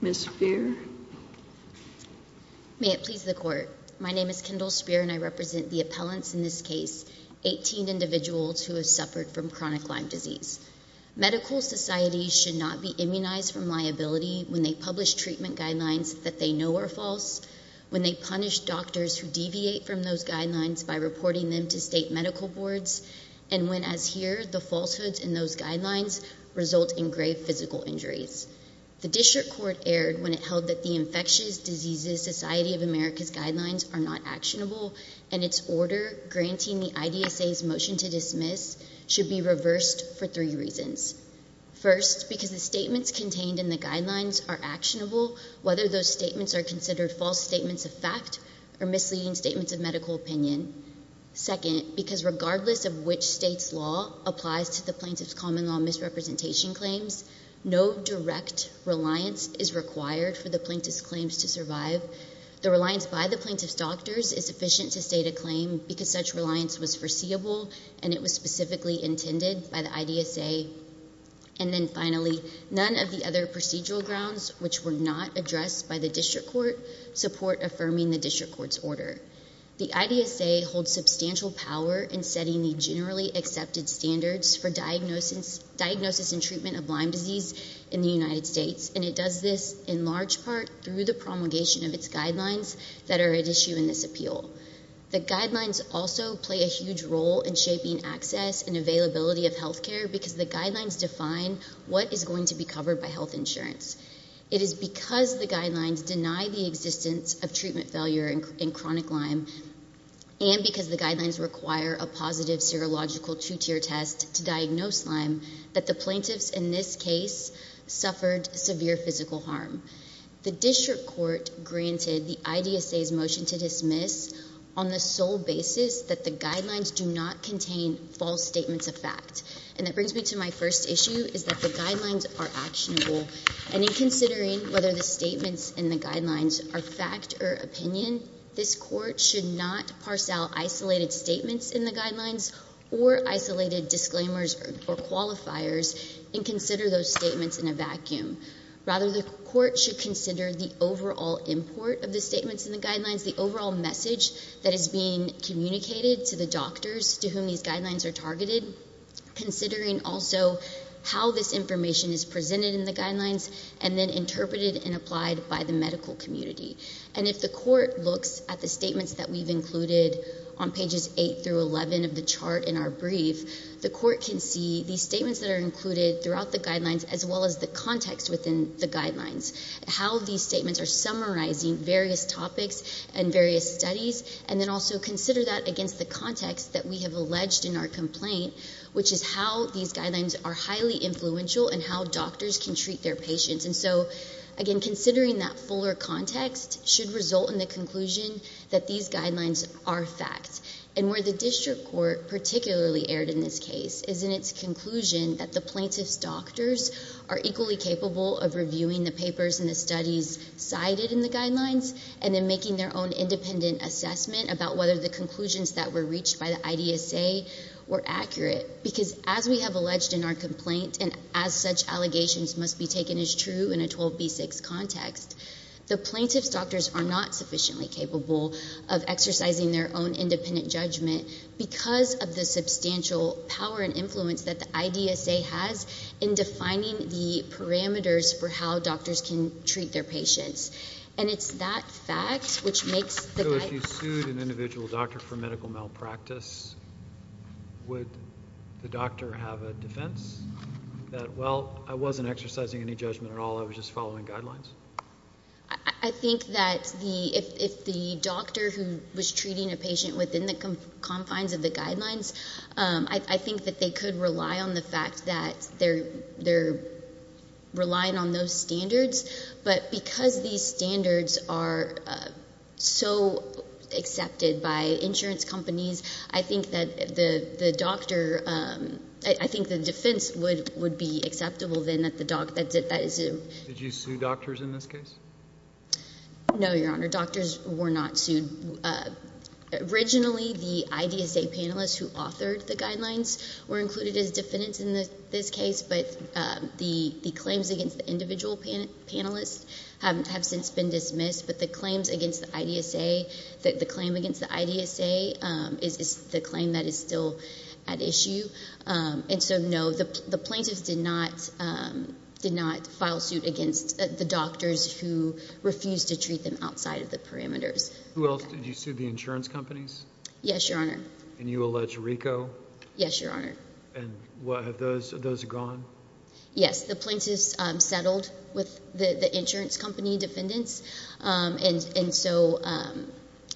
Ms. Speer. May it please the court. My name is Kendall Speer and I represent the appellants in this case, 18 individuals who have suffered from chronic Lyme disease. Medical society should not be immunized from liability when they publish treatment guidelines that they know are false, when they punish doctors who deviate from those guidelines by reporting them to state medical boards, and when, as here, the falsehoods in those guidelines result in grave physical injuries. The district court erred when it held that the Infectious Diseases Society of America's guidelines are not actionable and its order granting the IDSA's motion to contained in the guidelines are actionable, whether those statements are considered false statements of fact or misleading statements of medical opinion. Second, because regardless of which state's law applies to the plaintiff's common law misrepresentation claims, no direct reliance is required for the plaintiff's claims to survive. The reliance by the plaintiff's doctors is sufficient to state a claim because such reliance was foreseeable and it was specifically intended by the IDSA. And then finally, none of the other procedural grounds which were not addressed by the district court support affirming the district court's order. The IDSA holds substantial power in setting the generally accepted standards for diagnosis and treatment of Lyme disease in the United States and it does this in large part through the promulgation of its guidelines that are at issue in this appeal. The guidelines also play a huge role in shaping access and availability of health care because the guidelines define what is going to be covered by health insurance. It is because the guidelines deny the existence of treatment failure in chronic Lyme and because the guidelines require a positive serological two-tier test to diagnose Lyme that the plaintiffs in this case suffered severe physical harm. The district court granted the IDSA's motion to dismiss on the sole basis that the guidelines do not contain false statements of fact. And that brings me to my first issue, is that the guidelines are actionable. And in considering whether the statements in the guidelines are fact or opinion, this court should not parcel isolated statements in the guidelines or isolated disclaimers or qualifiers and consider those statements in a vacuum. Rather the court should consider the overall import of the statements in the guidelines, the overall message that is being communicated to the doctors to whom these guidelines are targeted, considering also how this information is presented in the guidelines and then interpreted and applied by the medical community. And if the court looks at the statements that we've included on pages 8 through 11 of the chart in our brief, the court can see these statements that are included throughout the guidelines as well as the context within the guidelines. How these statements are summarizing various topics and various studies and then also consider that against the context that we have alleged in our complaint, which is how these guidelines are highly influential and how doctors can treat their patients. And so, again, considering that fuller context should result in the conclusion that these guidelines are fact. And where the district court particularly erred in this case is in its conclusion that the plaintiff's doctors are equally capable of reviewing the papers and the studies cited in the guidelines and then making their own independent assessment about whether the conclusions that were reached by the IDSA were accurate. Because as we have alleged in our complaint and as such allegations must be taken as true in a 12B6 context, the plaintiff's doctors are not sufficiently capable of exercising their own independent judgment because of the substantial power and influence that the IDSA has in defining the parameters for how doctors can treat their patients. And it's that fact which makes the guidelines... So if you sued an individual doctor for medical malpractice, would the doctor have a defense? That, well, I wasn't exercising any judgment at all, I was just following guidelines? I think that if the doctor who was treating a patient within the confines of the guidelines, I think that they could rely on the fact that they're relying on those standards. But because these standards are so accepted by insurance companies, I think that the doctor... I think the defense would be acceptable then that the doctor... Did you sue doctors in this case? No, Your Honor. Doctors were not sued. Originally, the IDSA panelists who authored the guidelines were included as defendants in this case, but the claims against the individual panelists have since been dismissed. But the claims against the IDSA is the claim that is still at issue. And so, no, the plaintiffs did not file suit against the doctors who refused to treat them outside of the parameters. Who else? Did you sue the insurance companies? Yes, Your Honor. And you allege RICO? Yes, Your Honor. And have those gone? Yes, the plaintiffs settled with the insurance company defendants. And so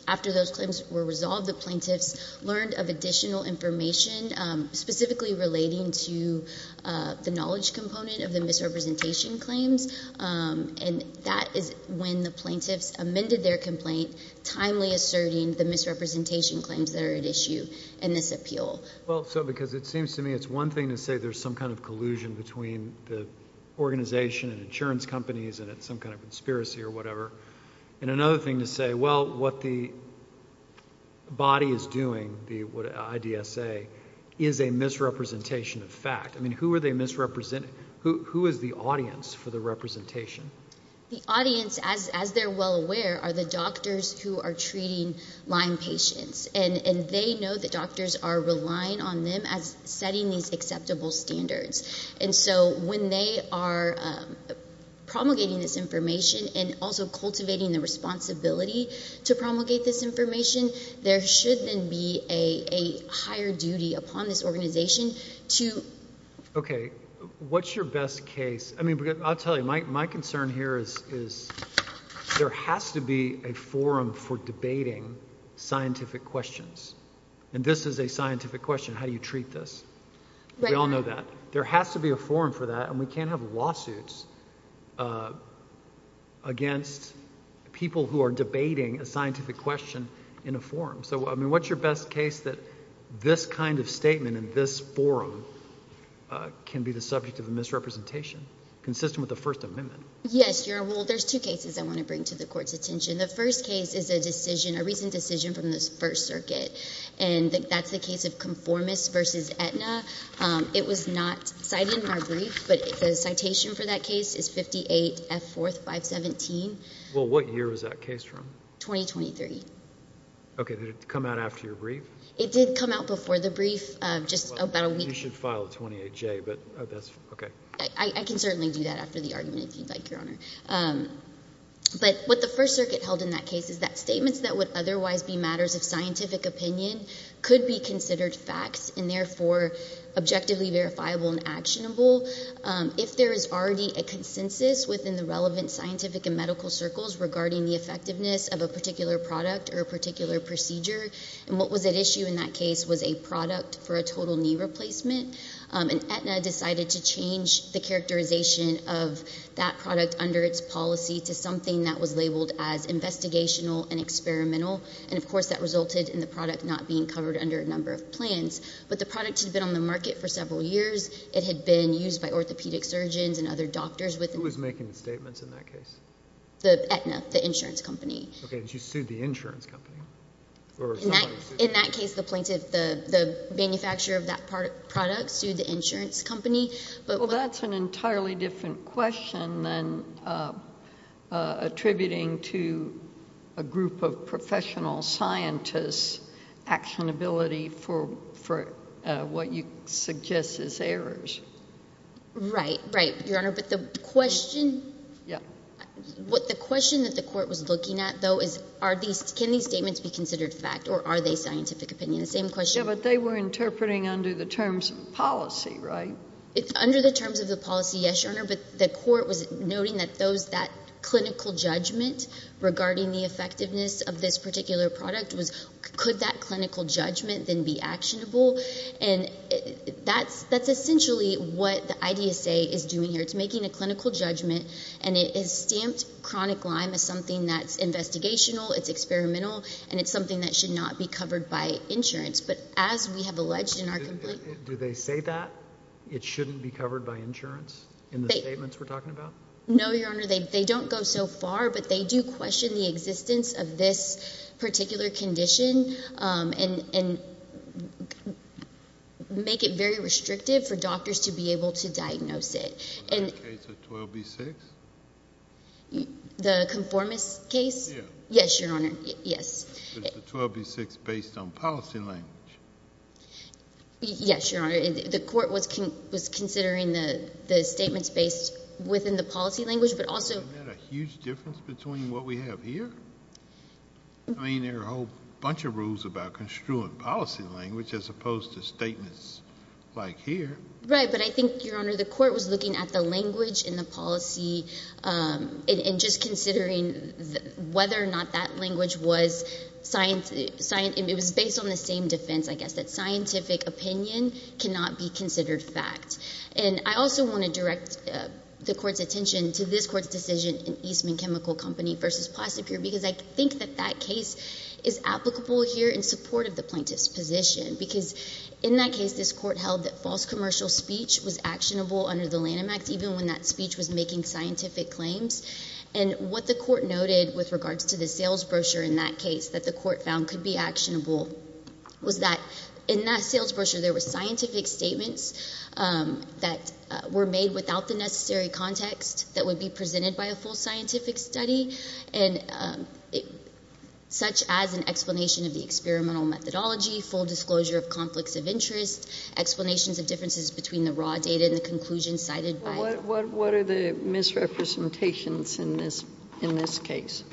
after those claims were resolved, the plaintiffs learned of additional information specifically relating to the knowledge component of the misrepresentation claims. And that is when the plaintiffs amended their complaint, timely asserting the misrepresentation claims that are at issue in this appeal. Well, so because it seems to me it's one thing to say there's some kind of collusion between the organization and insurance companies, and it's some kind of conspiracy or whatever. And another thing to say, well, what the body is doing, the IDSA, is a misrepresentation of fact. I mean, who are they misrepresenting? Who is the audience for the representation? The audience, as they're well aware, are the doctors who are treating Lyme patients. And they know the doctors are relying on them as setting these acceptable standards. And so when they are promulgating this information and also cultivating the responsibility to promulgate this information, there should then be a higher duty upon this organization to... Okay. What's your best case? I mean, I'll tell you, my concern here is there has to be a forum for debating scientific questions. And this is a scientific question. How do you treat this? Right, Your Honor. There has to be a forum for that, and we can't have lawsuits against people who are debating a scientific question in a forum. So, I mean, what's your best case that this kind of statement in this forum can be the subject of a misrepresentation consistent with the First Amendment? Yes, Your Honor. Well, there's two cases I want to bring to the Court's attention. The first case is a decision, a recent decision from the First Circuit, and that's the case of Conformis v. Aetna. It was not cited in our brief, but the citation for that case is 58 F. 4th, 517. Well, what year was that case from? 2023. Okay. Did it come out after your brief? It did come out before the brief, just about a week... You should file a 28J, but that's... Okay. I can certainly do that after the argument, if you'd like, Your Honor. But what the First Circuit held in that case is that statements that would otherwise be matters of scientific opinion could be considered facts and therefore objectively verifiable and actionable if there is already a consensus within the relevant scientific and medical circles regarding the effectiveness of a particular product or a particular procedure. And what was at issue in that case was a product for a total knee replacement, and Aetna decided to change the characterization of that product under its policy to something that was labeled as investigational and experimental. And, of course, that resulted in the product not being covered under a number of plans. But the product had been on the market for several years. It had been used by orthopedic surgeons and other doctors with... Who was making the statements in that case? Aetna, the insurance company. Okay. And she sued the insurance company? Or somebody sued... In that case, the plaintiff, the manufacturer of that product, sued the insurance company. Well, that's an entirely different question than attributing to a group of professional scientists actionability for what you suggest is errors. Right. Right, Your Honor. But the question... Yeah. What the question that the court was looking at, though, is can these statements be considered fact or are they scientific opinion? The same question... Yeah, but they were interpreting under the terms of policy, right? Under the terms of the policy, yes, Your Honor. But the court was noting that those, that clinical judgment regarding the effectiveness of this particular product was, could that clinical judgment then be actionable? And that's essentially what the IDSA is doing here. It's making a clinical judgment and it is stamped chronic Lyme as something that's investigational, it's experimental, and it's something that should not be covered by insurance. But as we have alleged in our complaint... Do they say that it shouldn't be covered by insurance in the statements we're talking about? No, Your Honor. They don't go so far, but they do question the existence of this particular condition and make it very restrictive for doctors to be able to diagnose it. Is that case a 12B6? The conformist case? Yeah. Yes, Your Honor. Yes. Is the 12B6 based on policy language? Yes, Your Honor. The court was considering the statements based within the policy language, but also... Isn't that a huge difference between what we have here? I mean, there are a whole bunch of rules about construing policy language as opposed to statements like here. Right, but I think, Your Honor, the court was looking at the language in the policy and just considering whether or not that language was science... It was based on the same defense, I guess, that scientific opinion cannot be considered fact. And I also want to direct the court's attention to this court's decision in Eastman Chemical Company versus Placibure, because I think that that case is applicable here in support of the plaintiff's position, because in that case, this court held that false commercial speech was actionable under the Lanham Act, even when that speech was making scientific claims. And what the court noted with regards to the sales brochure in that case that the court found could be actionable was that in that sales brochure, there were scientific statements that were made without the necessary context that would be presented by a full scientific study, and such as an explanation of the experimental methodology, full disclosure of conflicts of interest, explanations of differences between the raw data and the conclusions cited by... Well, what are the misrepresentations in this case?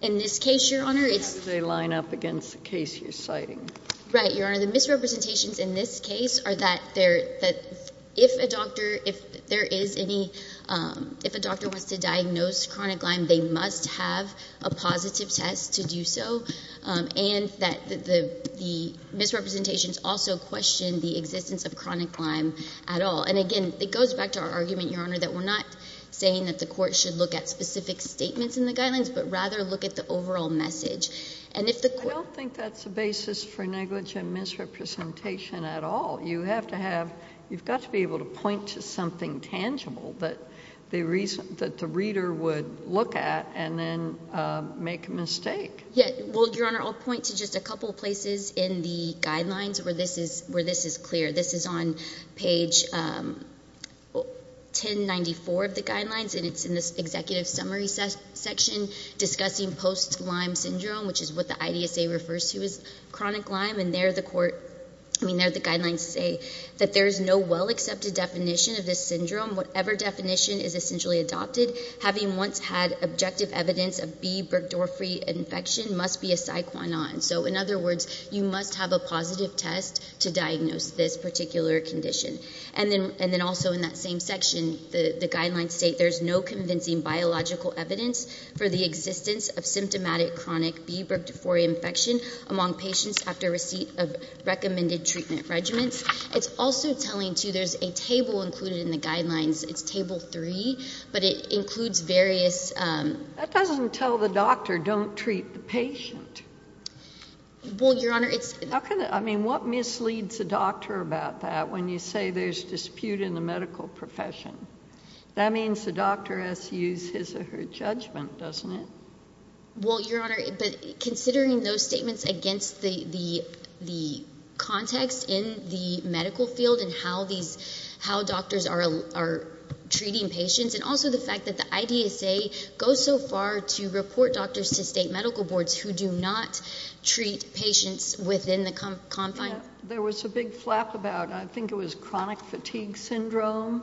In this case, Your Honor, it's... How do they line up against the case you're citing? Right, Your Honor. The misrepresentations in this case are that if a doctor wants to diagnose chronic Lyme, they must have a positive test to do so, and that the misrepresentations also question the existence of chronic Lyme at all. And again, it goes back to our argument, Your Honor, that we're not saying that the court should look at specific statements in the guidelines, but rather look at the overall message. And if the court... I don't think that's the basis for negligent misrepresentation at all. You have to have — you've got to be able to point to something tangible that the reader would look at and then make a mistake. Yeah. Well, Your Honor, I'll point to just a couple of places in the guidelines where this is clear. This is on page 1094 of the guidelines, and it's in the executive summary section discussing post-Lyme syndrome, which is what the IDSA refers to as chronic Lyme. And there, the court — I mean, there, the guidelines say that there is no well-accepted definition of this syndrome. Whatever definition is essentially adopted, having once had objective evidence of B. burgdorferi infection must be a Psyquanon. So in other words, you must have a positive test to diagnose this particular condition. And then also in that same section, the guidelines state there's no convincing biological evidence for the existence of symptomatic chronic B. burgdorferi infection among patients after receipt of recommended treatment regimens. It's also telling, too, there's a table included in the guidelines. It's table three, but it doesn't tell the doctor, don't treat the patient. Well, Your Honor, it's — How can — I mean, what misleads a doctor about that when you say there's dispute in the medical profession? That means the doctor has to use his or her judgment, doesn't it? Well, Your Honor, but considering those statements against the context in the medical field and these — how doctors are treating patients, and also the fact that the IDSA goes so far to report doctors to state medical boards who do not treat patients within the confines — There was a big flap about — I think it was chronic fatigue syndrome,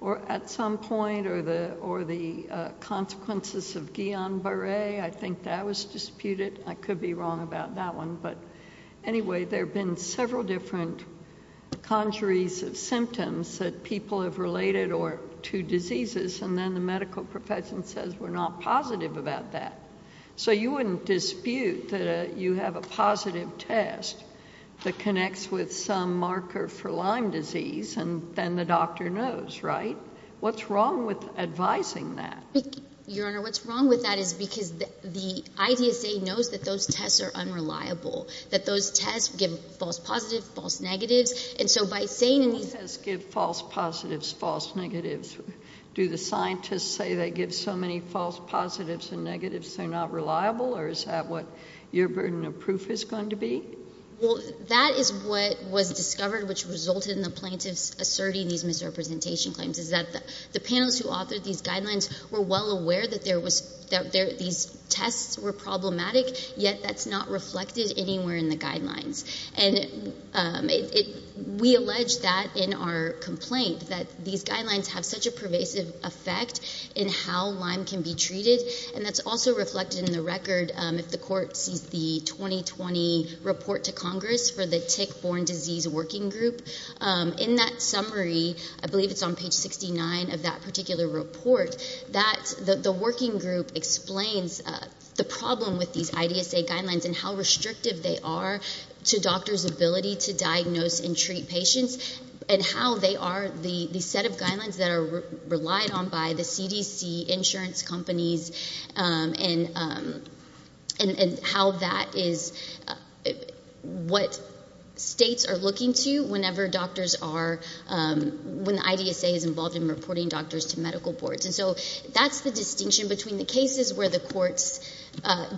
or at some point, or the consequences of Guillain-Barre. I think that was disputed. I could be wrong about that one, but anyway, there have been several different conjuries of symptoms that people have related to diseases, and then the medical profession says we're not positive about that. So you wouldn't dispute that you have a positive test that connects with some marker for Lyme disease, and then the doctor knows, right? What's wrong with advising that? Your Honor, what's wrong with that is because the IDSA knows that those tests are unreliable, that those tests give false positives, false negatives, and so by saying — What tests give false positives, false negatives? Do the scientists say they give so many false positives and negatives they're not reliable, or is that what your burden of proof is going to be? Well, that is what was discovered, which resulted in the plaintiffs asserting these were — these tests were problematic, yet that's not reflected anywhere in the guidelines, and we allege that in our complaint, that these guidelines have such a pervasive effect in how Lyme can be treated, and that's also reflected in the record if the Court sees the 2020 report to Congress for the Tick-Borne Disease Working Group. In that summary, I believe it's on page 69 of that particular report, that the working group explains the problem with these IDSA guidelines and how restrictive they are to doctors' ability to diagnose and treat patients, and how they are — the set of guidelines that are relied on by the CDC, insurance companies, and how that is — what states are looking to whenever doctors are — when IDSA is involved in reporting doctors to medical boards. And so that's the distinction between the cases where the courts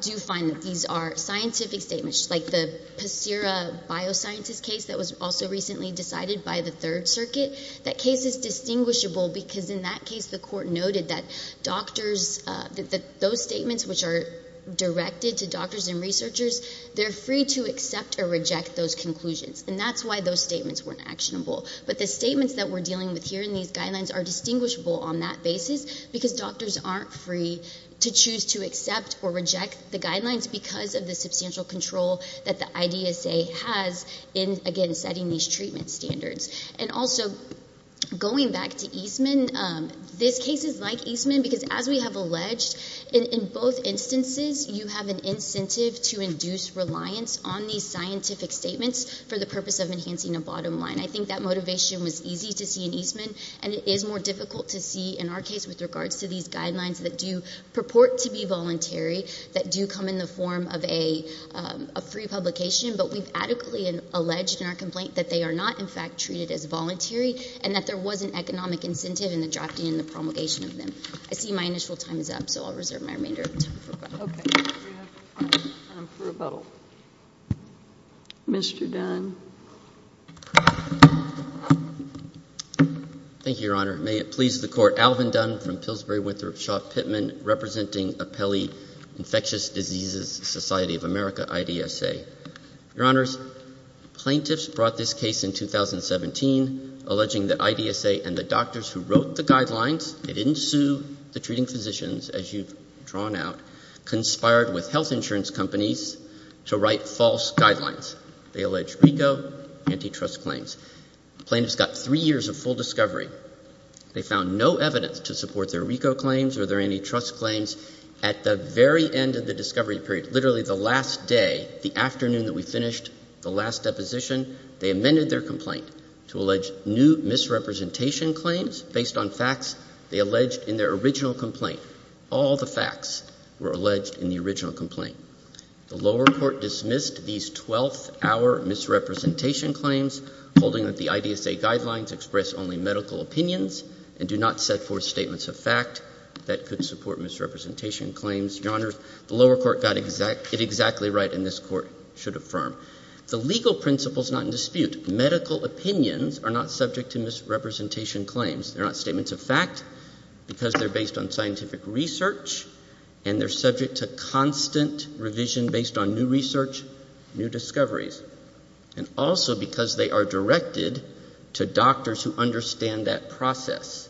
do find that these are scientific statements, like the Pacira bioscientist case that was also recently decided by the Third Circuit. That case is distinguishable because in that case, the Court noted that doctors — that those statements which are directed to doctors and researchers, they're free to accept or reject those conclusions, and that's why those statements weren't actionable. But the statements that we're dealing with here in these guidelines are distinguishable on that basis because doctors aren't free to choose to accept or reject the guidelines because of the substantial control that the IDSA has in, again, setting these treatment standards. And also, going back to Eastman, this case is like Eastman because, as we have alleged, in both instances, you have an incentive to induce reliance on these scientific statements for the purpose of enhancing a bottom line. I think that motivation was easy to see in Eastman, and it is more difficult to see in our case with regards to these guidelines that do purport to be voluntary, that do come in the form of a free publication, but we've adequately alleged in our complaint that they are not, in fact, treated as voluntary and that there was an economic incentive in the drafting and the promulgation of them. I see my initial time is up, so I'll reserve my remainder of time for questions. Okay, we have time for a vote. Mr. Dunn. Thank you, Your Honor. May it please the Court, Alvin Dunn from Pillsbury-Winthrop-Shaw-Pittman representing Apelli Infectious Diseases Society of America, IDSA. Your Honors, plaintiffs brought this case in 2017 alleging that IDSA and the doctors who wrote the guidelines, they didn't conspired with health insurance companies to write false guidelines. They alleged RICO antitrust claims. The plaintiffs got three years of full discovery. They found no evidence to support their RICO claims or their antitrust claims. At the very end of the discovery period, literally the last day, the afternoon that we finished the last deposition, they amended their complaint to allege new misrepresentation claims based on facts they alleged in their original complaint. All the facts were alleged in the original complaint. The lower court dismissed these 12th hour misrepresentation claims, holding that the IDSA guidelines express only medical opinions and do not set forth statements of fact that could support misrepresentation claims. Your Honor, the lower court got it exactly right and this Court should affirm. The legal principle is not in dispute. Medical opinions are not subject to misrepresentation claims. They're not statements of fact because they're based on scientific research and they're subject to constant revision based on new research, new discoveries, and also because they are directed to doctors who understand that process.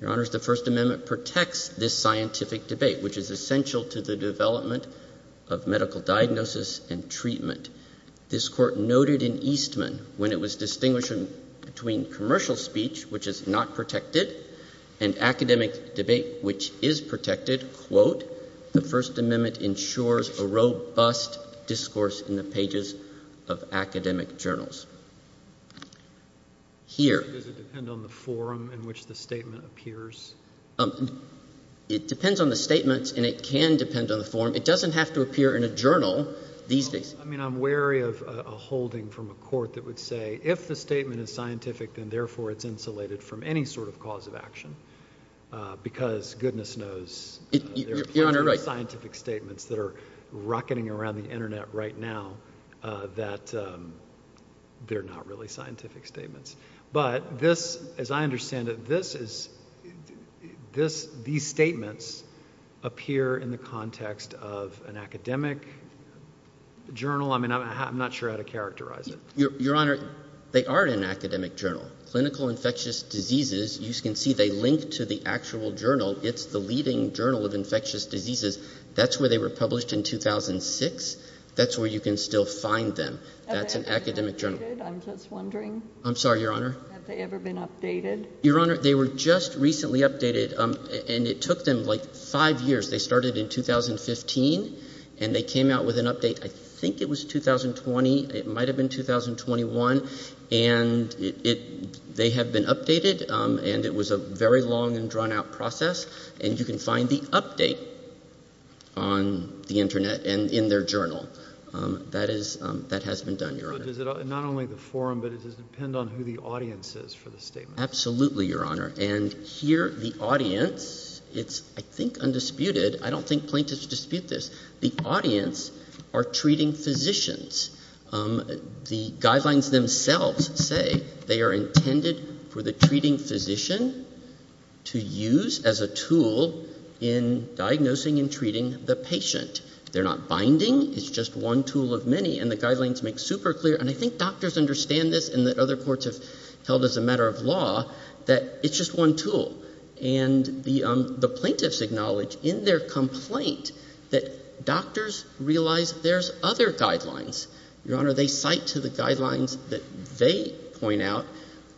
Your Honors, the First Amendment protects this scientific debate which is essential to the development of medical diagnosis and treatment. This Court noted in Eastman when it was distinguishing between commercial speech, which is not protected, and academic debate, which is protected, quote, the First Amendment ensures a robust discourse in the pages of academic journals. Here... Does it depend on the forum in which the statement appears? It depends on the statements and it can depend on the forum. It doesn't have to appear in a journal these days. I mean, I'm wary of a holding from a court that would say, if the statement is scientific, then therefore it's insulated from any sort of cause of action because goodness knows there are plenty of scientific statements that are rocketing around the internet right now that they're not really scientific statements. But this, as I understand it, this is... These statements appear in the context of an academic journal. I mean, I'm not sure how to characterize it. Your Honor, they are in an academic journal. Clinical Infectious Diseases, you can see they link to the actual journal. It's the leading journal of infectious diseases. That's where they were published in 2006. That's where you can still find them. That's an academic journal. I'm just wondering... I'm sorry, Your Honor. Have they ever been updated? Your Honor, they were just recently updated and it took them like five years. They started in 2015 and they came out with an update, I think it was 2020. It might have been 2021. And they have been updated and it was a very long and drawn out process. And you can find the update on the internet and in their journal. That has been done, Your Honor. Not only the forum, but does it depend on who the audience is for the statement? Absolutely, Your Honor. And here, the audience, it's, I think, undisputed. I don't think plaintiffs dispute this. The audience are treating physicians. The guidelines themselves say they are intended for the treating physician to use as a tool in diagnosing and treating the patient. They're not binding. It's just one tool of many. And the guidelines make super clear, and I think doctors understand this and that other courts have held as a matter of law, that it's just one tool. And the plaintiffs acknowledge in their complaint that doctors realize there's other guidelines. Your Honor, they cite to the guidelines that they point out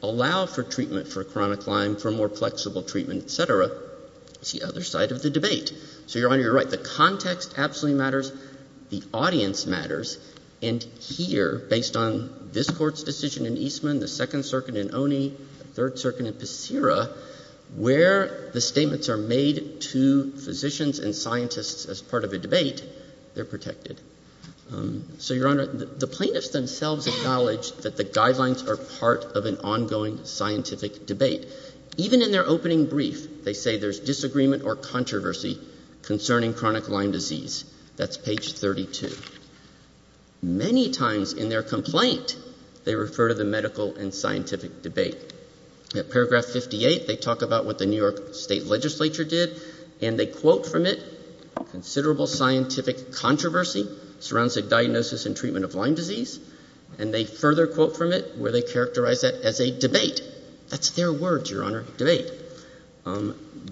allow for treatment for chronic Lyme, for more flexible treatment, et cetera. It's the other side of the debate. So, Your Honor, you're right. The context absolutely matters. The audience matters. And here, based on this Court's decision in Eastman, the Second Circuit in Oney, the Third Circuit in Passera, where the statements are made to physicians and scientists as part of a debate, they're protected. So, Your Honor, the plaintiffs themselves acknowledge that the guidelines are part of an ongoing scientific debate. Even in their opening brief, they say there's disagreement or controversy concerning chronic Lyme disease. That's page 32. Many times in their complaint, they refer to the medical and scientific debate. At paragraph 58, they talk about what the New York State Legislature did, and they quote from it, considerable scientific controversy surrounds a diagnosis and treatment of Lyme disease. And they further quote from it, where they characterize that as a debate. That's their words, Your Honor, debate.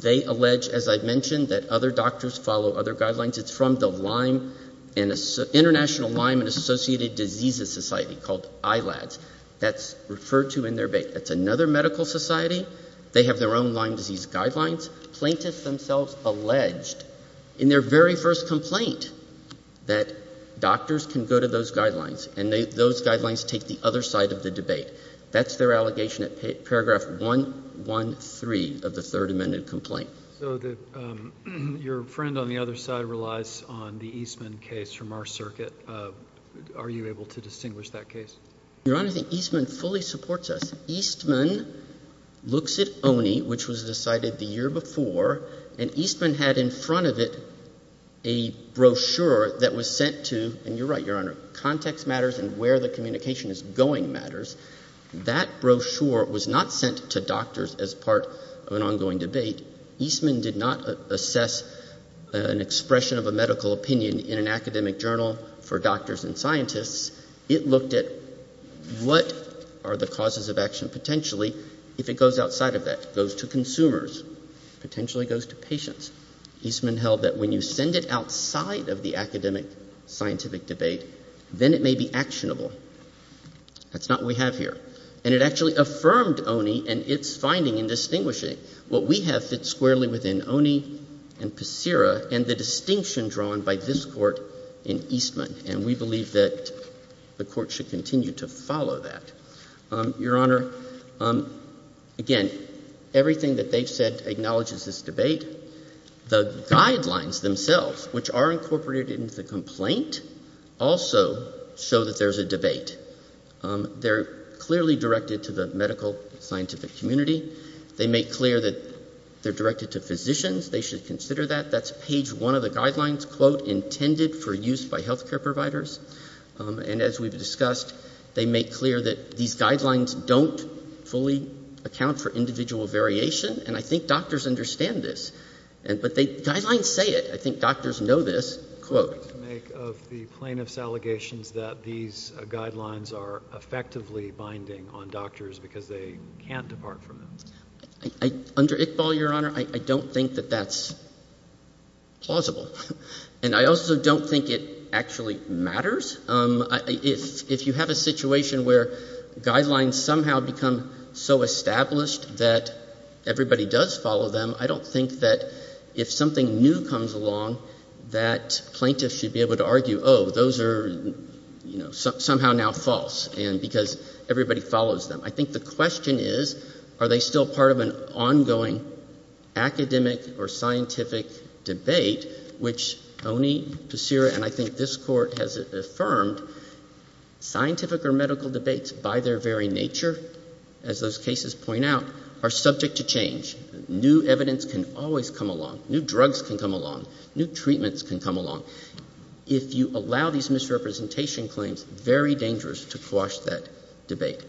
They allege, as I mentioned, that other doctors follow other guidelines. It's from the Lyme, International Lyme and Associated Diseases Society, called ILADS. That's referred to in their debate. That's another medical society. They have their own Lyme disease guidelines. Plaintiffs themselves alleged, in their very first complaint, that doctors can go to those guidelines, and those guidelines take the other side of the debate. That's their allegation at paragraph 113. So your friend on the other side relies on the Eastman case from our circuit. Are you able to distinguish that case? Your Honor, I think Eastman fully supports us. Eastman looks at ONI, which was decided the year before, and Eastman had in front of it a brochure that was sent to, and you're right, Your Honor, context matters and where the communication is going matters. That brochure was not sent to doctors as part of an ongoing debate. Eastman did not assess an expression of a medical opinion in an academic journal for doctors and scientists. It looked at what are the causes of action potentially if it goes outside of that, goes to consumers, potentially goes to patients. Eastman held that when you send it outside of the academic scientific debate, then it may be actionable. That's not what we have here. And it actually affirmed ONI and its finding in distinguishing what we have fit squarely within ONI and PSIRA and the distinction drawn by this Court in Eastman, and we believe that the Court should continue to follow that. Your Honor, again, everything that they've said acknowledges this debate. The guidelines themselves, which are incorporated into the complaint, also show that there's a debate. They're clearly directed to the medical scientific community. They make clear that they're directed to physicians. They should consider that. That's page one of the guidelines, quote, intended for use by health care providers. And as we've discussed, they make clear that these guidelines don't fully account for individual variation, and I think doctors understand this. But the guidelines say it. I think doctors know this, quote. I'm afraid to make of the plaintiff's allegations that these guidelines are effectively binding on doctors because they can't depart from them. Under Iqbal, Your Honor, I don't think that that's plausible. And I also don't think it actually matters. If you have a situation where guidelines somehow become so established that everybody does follow them, I don't think that if something new comes along, that plaintiffs should be able to argue, oh, those are, you know, somehow now false, and because everybody follows them. I think the question is, are they still part of an ongoing academic or scientific debate, which Oney, Passira, and I think this Court has affirmed, scientific or medical debates by their very nature, as those cases point out, are subject to change. New evidence can always come along. New drugs can come along. New treatments can come along. If you allow these misrepresentation claims, very dangerous to quash that debate.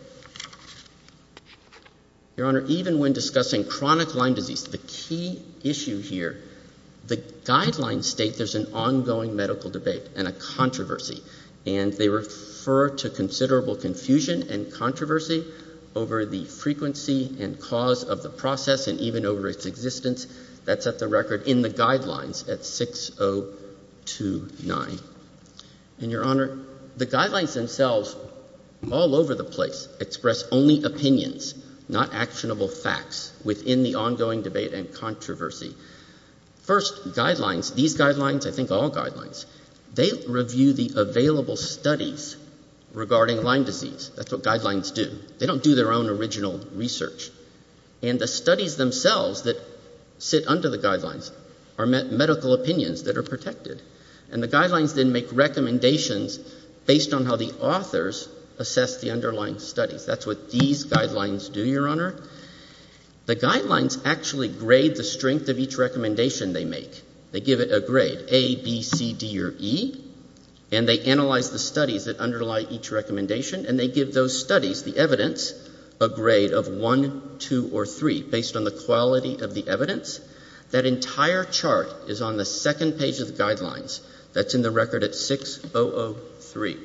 Your Honor, even when discussing chronic Lyme disease, the key issue here, the guidelines state there's an ongoing medical debate and a controversy, and they refer to considerable confusion and controversy over the frequency and cause of the process, and even over its existence. That's at the record in the guidelines at 6029. And, Your Honor, the guidelines themselves, all over the place, express only opinions, not actionable facts, within the ongoing debate and controversy. First, guidelines, these guidelines, I think all guidelines, they review the available studies regarding Lyme disease. That's what guidelines do. They don't do their own original research. And the studies themselves that sit under the guidelines are medical opinions that are protected. And the guidelines then make recommendations based on how the authors assess the underlying studies. That's what these guidelines do, Your Honor. The guidelines actually grade the strength of each recommendation they make. They give it a grade, A, B, C, D, or E, and they analyze the studies that underlie each recommendation, and they give those studies, the evidence, a grade of 1, 2, or 3, based on the quality of the evidence. That entire chart is on the second page of the guidelines. That's in the record at 6003.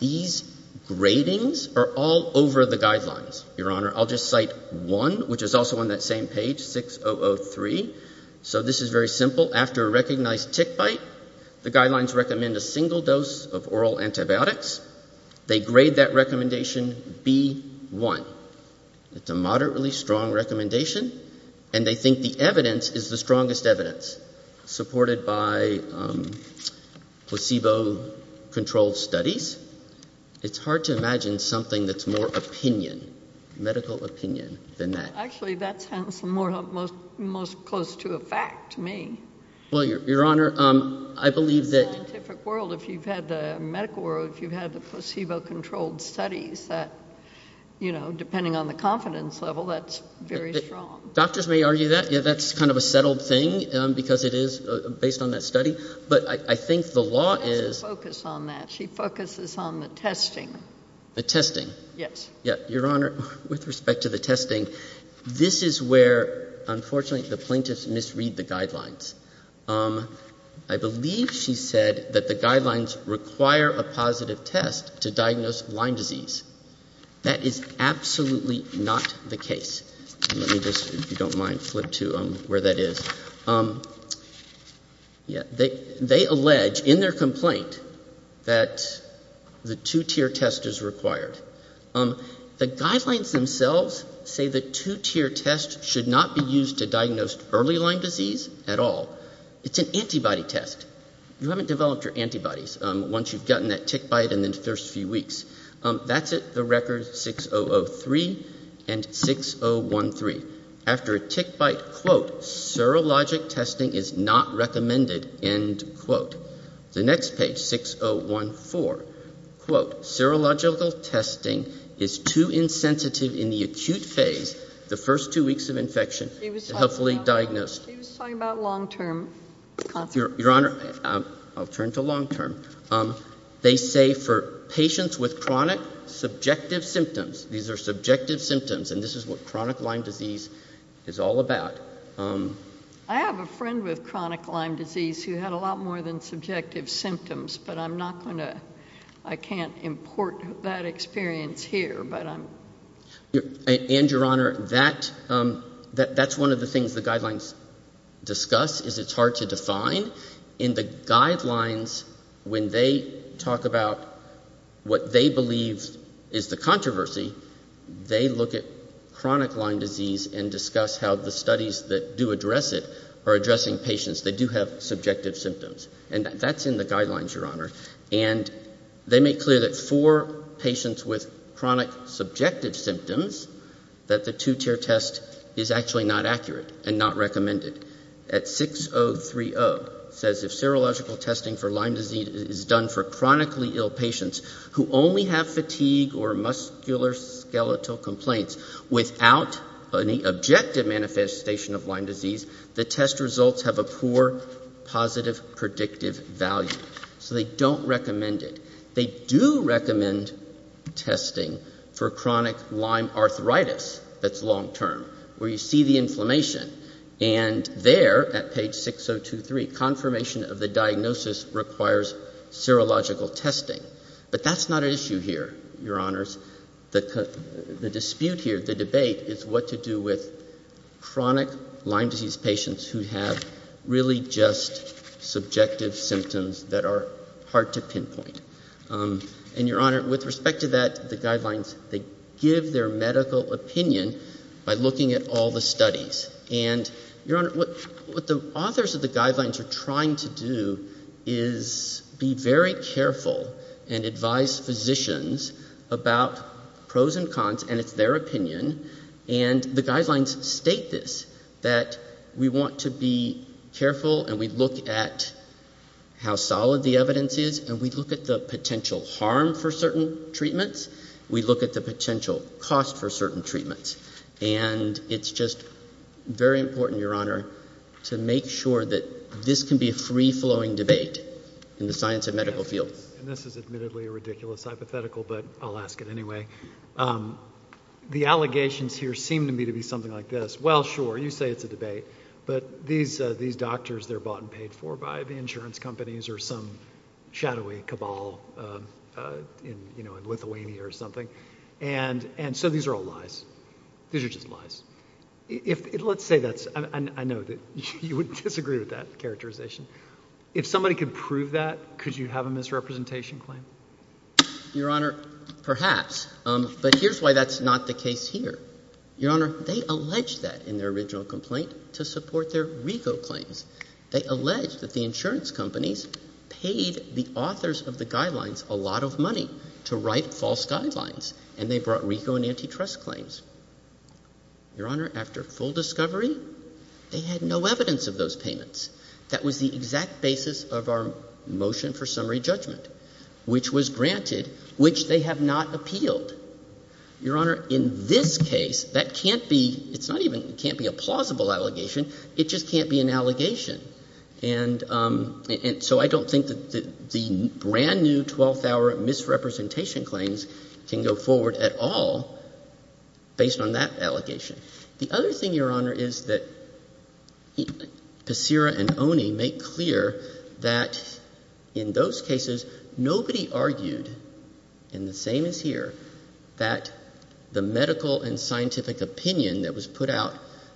These gradings are all over the guidelines, Your Honor. I'll just cite one, which is also on that same page, 6003. So this is very simple. After a recognized tick bite, the guidelines recommend a single dose of oral antibiotics. They grade that recommendation, B, 1. It's a moderately strong recommendation, and they think the evidence is the strongest evidence supported by placebo-controlled studies. It's hard to imagine something that's more opinion, medical opinion, than that. Actually, that sounds the most close to a fact to me. Well, Your Honor, I believe that... In the scientific world, if you've had the medical world, if you've had the placebo-controlled studies, that, you know, depending on the confidence level, that's very strong. Doctors may argue that, yeah, that's kind of a settled thing, because it is based on that study, but I think the law is... She doesn't focus on that. She focuses on the testing. The testing? Yes. Yeah. Your Honor, with respect to the testing, this is where, unfortunately, the plaintiffs misread the guidelines. I believe she said that the guidelines require a positive test to diagnose Lyme disease. That is absolutely not the case. Let me just, if you don't mind, flip to where that is. Yeah. They allege, in their complaint, that the two-tier test is required. The guidelines themselves say the two-tier test should not be used to diagnose early Lyme disease at all. It's an antibody test. You haven't developed your antibodies once you've gotten that tick bite in the first few weeks. That's at the record 6003 and 6013. After a tick bite, quote, serologic testing is not recommended, end quote. The next page, 6014, quote, serological testing is too insensitive in the acute phase, the first two weeks of infection, to helpfully diagnose. He was talking about long-term consequences. Your Honor, I'll turn to long-term. They say for patients with chronic subjective symptoms, these are subjective symptoms, and this is what chronic Lyme disease is all about. I have a friend with chronic Lyme disease who had a lot more than subjective symptoms, but I'm not going to, I can't import that experience here. And, Your Honor, that's one of the things the guidelines discuss, is it's hard to define. In the guidelines, when they talk about what they believe is the controversy, they look at chronic Lyme disease and discuss how the studies that do address it are addressing patients that do have subjective symptoms. And that's in the guidelines, Your Honor. And they make clear that for patients with chronic subjective symptoms, that the two-tier test is actually not accurate and not recommended. At 6030, it says if serological testing for Lyme skeletal complaints without any objective manifestation of Lyme disease, the test results have a poor positive predictive value. So they don't recommend it. They do recommend testing for chronic Lyme arthritis that's long-term, where you see the inflammation. And there, at page 6023, confirmation of the diagnosis requires serological testing. But that's not an issue here, Your Honors. The dispute here, the debate, is what to do with chronic Lyme disease patients who have really just subjective symptoms that are hard to pinpoint. And, Your Honor, with respect to that, the guidelines, they give their medical opinion by looking at all the studies. And, Your Honor, what the authors of the guidelines are trying to do is be very careful and advise physicians about pros and cons. And it's their opinion. And the guidelines state this, that we want to be careful and we look at how solid the evidence is. And we look at the potential harm for certain treatments. We look at the potential cost for certain treatments. And it's just very important, Your Honor, to make sure that this can be a free-flowing debate in the science and the hypothetical, but I'll ask it anyway. The allegations here seem to me to be something like this. Well, sure, you say it's a debate, but these doctors, they're bought and paid for by the insurance companies or some shadowy cabal in, you know, in Lithuania or something. And so these are all lies. These are just lies. Let's say that's, I know that you would disagree with that characterization. If somebody could prove that, could you have a misrepresentation claim? Your Honor, perhaps. But here's why that's not the case here. Your Honor, they alleged that in their original complaint to support their RICO claims. They alleged that the insurance companies paid the authors of the guidelines a lot of money to write false guidelines, and they brought RICO and antitrust claims. Your Honor, after full discovery, they had no evidence of those payments. That was the exact basis of our motion for summary judgment, which was granted, which they have not appealed. Your Honor, in this case, that can't be, it's not even, it can't be a plausible allegation. It just can't be an allegation. And so I don't think that the brand new 12-hour misrepresentation claims can go forward at all based on that allegation. The other thing, Your Honor, is that Pesera and Oney make clear that in those cases, nobody argued, and the same as here, that the medical and scientific opinion that was put out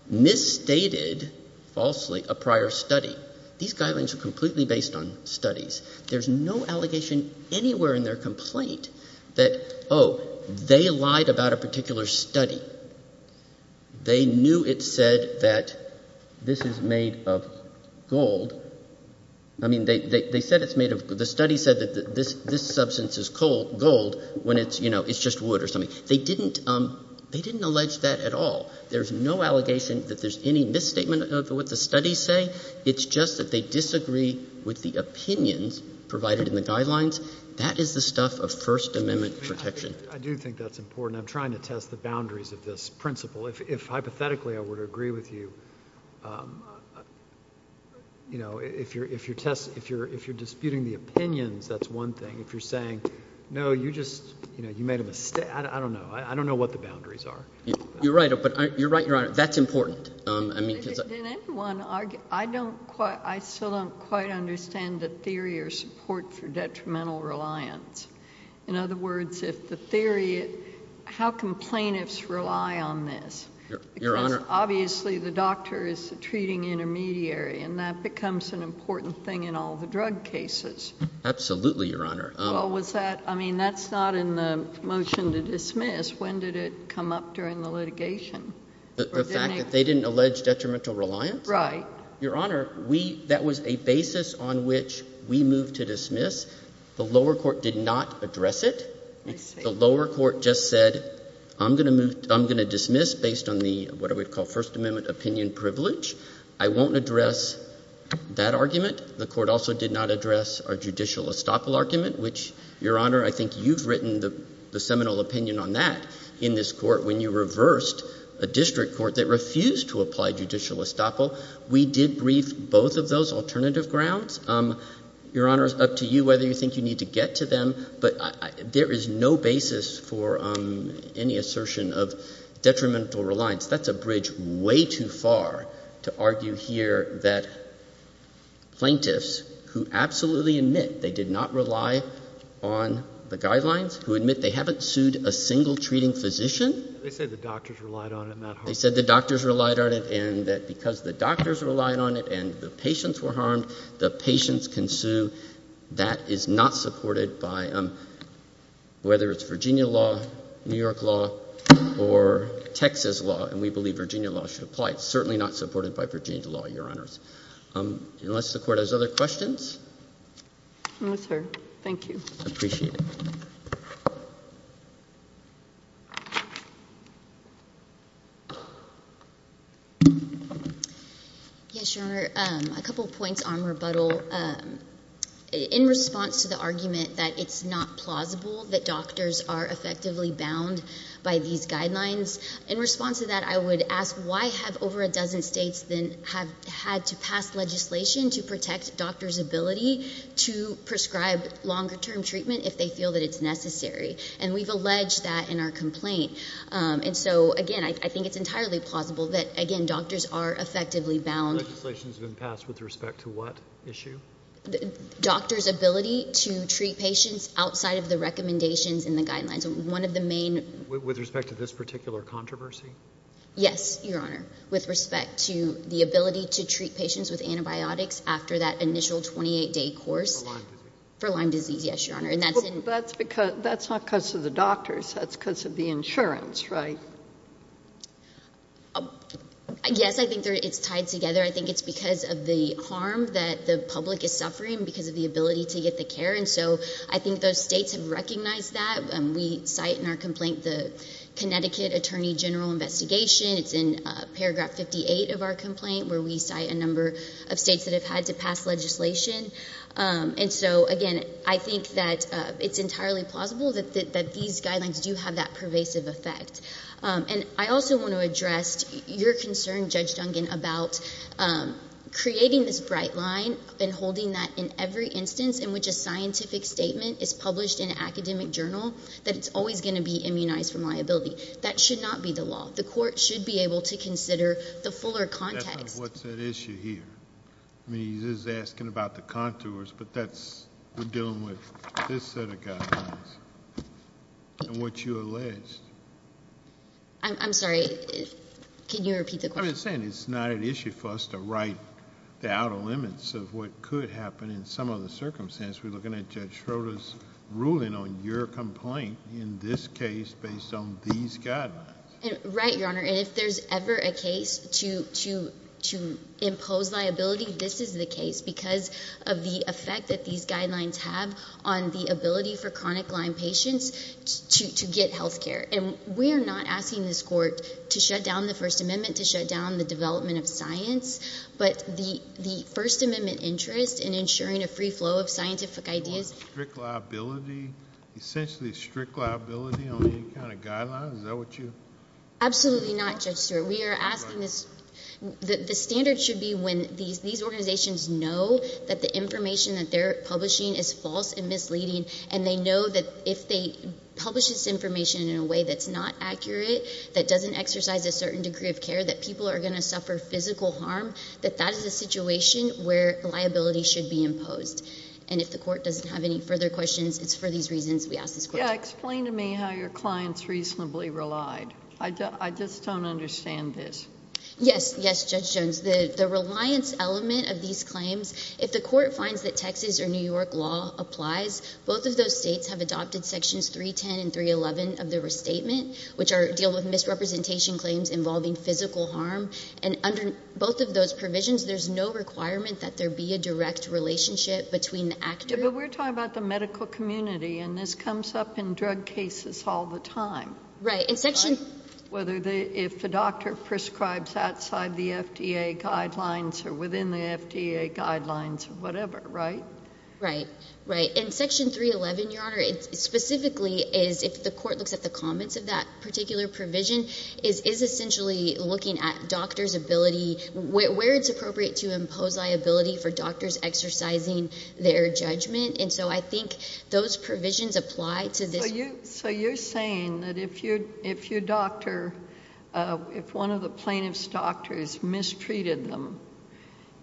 misstated falsely a prior study. These guidelines are completely based on studies. There's no allegation anywhere in their complaint that, oh, they lied about a particular study. They knew it said that this is made of gold. I mean, they said it's made of, the study said that this substance is gold when it's, you know, it's just wood or something. They didn't, they didn't allege that at all. There's no allegation that there's any misstatement of what the studies say. It's just that they disagree with the opinions provided in the guidelines. That is the stuff of First Amendment protection. I do think that's important. I'm trying to test the boundaries of this principle. If hypothetically I were to agree with you, you know, if you're, if you're test, if you're, if you're disputing the opinions, that's one thing. If you're saying, no, you just, you know, you made of a, I don't know. I don't know what the boundaries are. You're right, but you're right, Your Honor. That's important. I mean, did anyone argue, I don't quite, I still don't quite understand the theory or support for detrimental reliance. In other words, if the theory, how can plaintiffs rely on this? Your Honor, obviously the doctor is the treating intermediary and that becomes an important thing in all the drug cases. Absolutely, Your Honor. Well, was that, I mean, that's not in the motion to dismiss. When did it come up during the litigation? The fact that they didn't allege detrimental reliance? Right. Your Honor, we, that was a basis on which we moved to dismiss. The lower court did not address it. The lower court just said, I'm going to move, I'm going to dismiss based on the, what do we call first amendment opinion privilege. I won't address that argument. The court also did not address our judicial estoppel argument, which Your Honor, I think you've written the seminal opinion on that in this court when you reversed a district court that refused to apply judicial estoppel. We did brief both of those alternative grounds. Your Honor, it's up to you whether you think you need to get to them, but there is no basis for any assertion of detrimental reliance. That's a bridge way too far to argue here that plaintiffs who absolutely admit they did not rely on the physician. They said the doctors relied on it. They said the doctors relied on it and that because the doctors relied on it and the patients were harmed, the patients can sue. That is not supported by whether it's Virginia law, New York law, or Texas law, and we believe Virginia law should apply. It's certainly not supported by Virginia law, Your Honors. Unless the court has other questions. I'm with her. Thank you. I appreciate it. Yes, Your Honor. A couple points on rebuttal. In response to the argument that it's not plausible that doctors are effectively bound by these guidelines, in response to that, I would ask why have over a dozen states then have had to pass legislation to protect doctors' ability to prescribe longer-term treatment if they feel that it's necessary? And we've alleged that in our complaint. And so, again, I think it's entirely plausible that, again, doctors are effectively bound. The legislation's been passed with respect to what issue? Doctors' ability to treat patients outside of the recommendations in the guidelines. One of the main... With respect to this particular controversy? Yes, Your Honor. With respect to the ability to treat patients with antibiotics after that initial 28-day course... For Lyme disease. For Lyme disease, yes, Your Honor. And that's in... That's not because of the doctors. That's because of the insurance, right? Yes, I think it's tied together. I think it's because of the harm that the public is suffering because of the ability to get the care. And so I think those states have recognized that. We cite in our complaint the Connecticut Attorney General investigation. It's in paragraph 58 of our complaint where we cite a number of states that have had to pass legislation. And so, again, I think that it's entirely plausible that these guidelines do have that pervasive effect. And I also want to address your concern, Judge Dungan, about creating this bright line and holding that in every instance in which a scientific statement is published in academic journal, that it's always going to be immunized from liability. That should not be the law. The court should be able to consider the fuller context. That's not what's at issue here. I mean, he's asking about the contours, but that's... We're dealing with this set of guidelines and what you alleged. I'm sorry. Can you repeat the question? I'm saying it's not an issue for us to write the outer limits of what could happen in some of the circumstances. We're looking at Schroeder's ruling on your complaint in this case based on these guidelines. Right, Your Honor. And if there's ever a case to impose liability, this is the case because of the effect that these guidelines have on the ability for chronic Lyme patients to get health care. And we're not asking this court to shut down the First Amendment, to shut down the development of science, but the First Amendment interest in ensuring a free flow of scientific ideas. Strict liability? Essentially strict liability on any kind of guidelines? Is that what you... Absolutely not, Judge Stewart. We are asking this. The standard should be when these organizations know that the information that they're publishing is false and misleading, and they know that if they publish this information in a way that's not accurate, that doesn't exercise a certain degree of care, that people are going to suffer physical harm, that that is a situation where liability should be imposed. And if the court doesn't have any further questions, it's for these reasons we ask this court. Yeah, explain to me how your client's reasonably relied. I just don't understand this. Yes, yes, Judge Jones. The reliance element of these claims, if the court finds that Texas or New York law applies, both of those states have adopted sections 310 and 311 of the restatement, which deal with misrepresentation claims involving physical harm. And under both of those provisions, there's no requirement that there be a direct relationship between the actor... Yeah, but we're talking about the medical community, and this comes up in drug cases all the time. Right, in section... Whether they, if the doctor prescribes outside the FDA guidelines or within the FDA guidelines or whatever, right? Right, right. In section 311, Your Honor, it specifically is if the court looks at the comments of that particular provision, is essentially looking at doctor's ability, where it's appropriate to impose liability for doctors exercising their judgment. And so I think those provisions apply to this... So you're saying that if your doctor, if one of the plaintiff's doctors mistreated them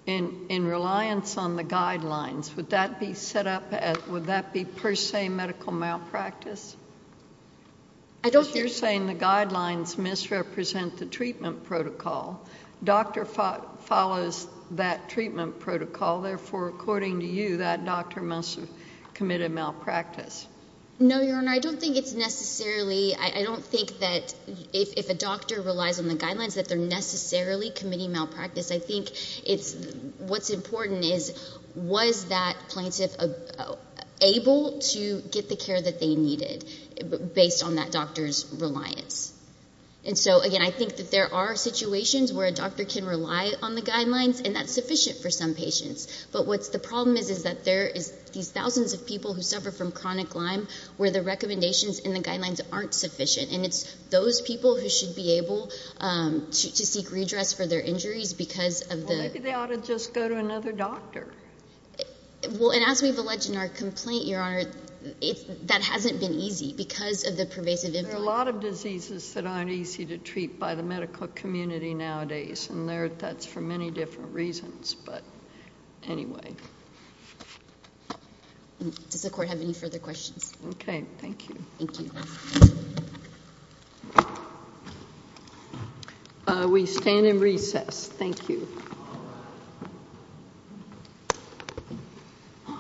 in reliance on the guidelines, would that be set up as, would you say... Because you're saying the guidelines misrepresent the treatment protocol. Doctor follows that treatment protocol, therefore, according to you, that doctor must have committed malpractice. No, Your Honor, I don't think it's necessarily, I don't think that if a doctor relies on the guidelines that they're necessarily committing malpractice. I think it's, what's important is, was that plaintiff able to get the care that they needed based on that doctor's reliance? And so, again, I think that there are situations where a doctor can rely on the guidelines and that's sufficient for some patients. But what's the problem is, is that there is these thousands of people who suffer from chronic Lyme where the recommendations and the guidelines aren't sufficient. And it's those people who should be able to seek redress for their injuries because of the... Maybe they ought to just go to another doctor. Well, and as we've alleged in our complaint, Your Honor, that hasn't been easy because of the pervasive... There are a lot of diseases that aren't easy to treat by the medical community nowadays, and that's for many different reasons, but anyway. Does the court have any further questions? Okay, thank you. Thank you. We stand in recess. Thank you.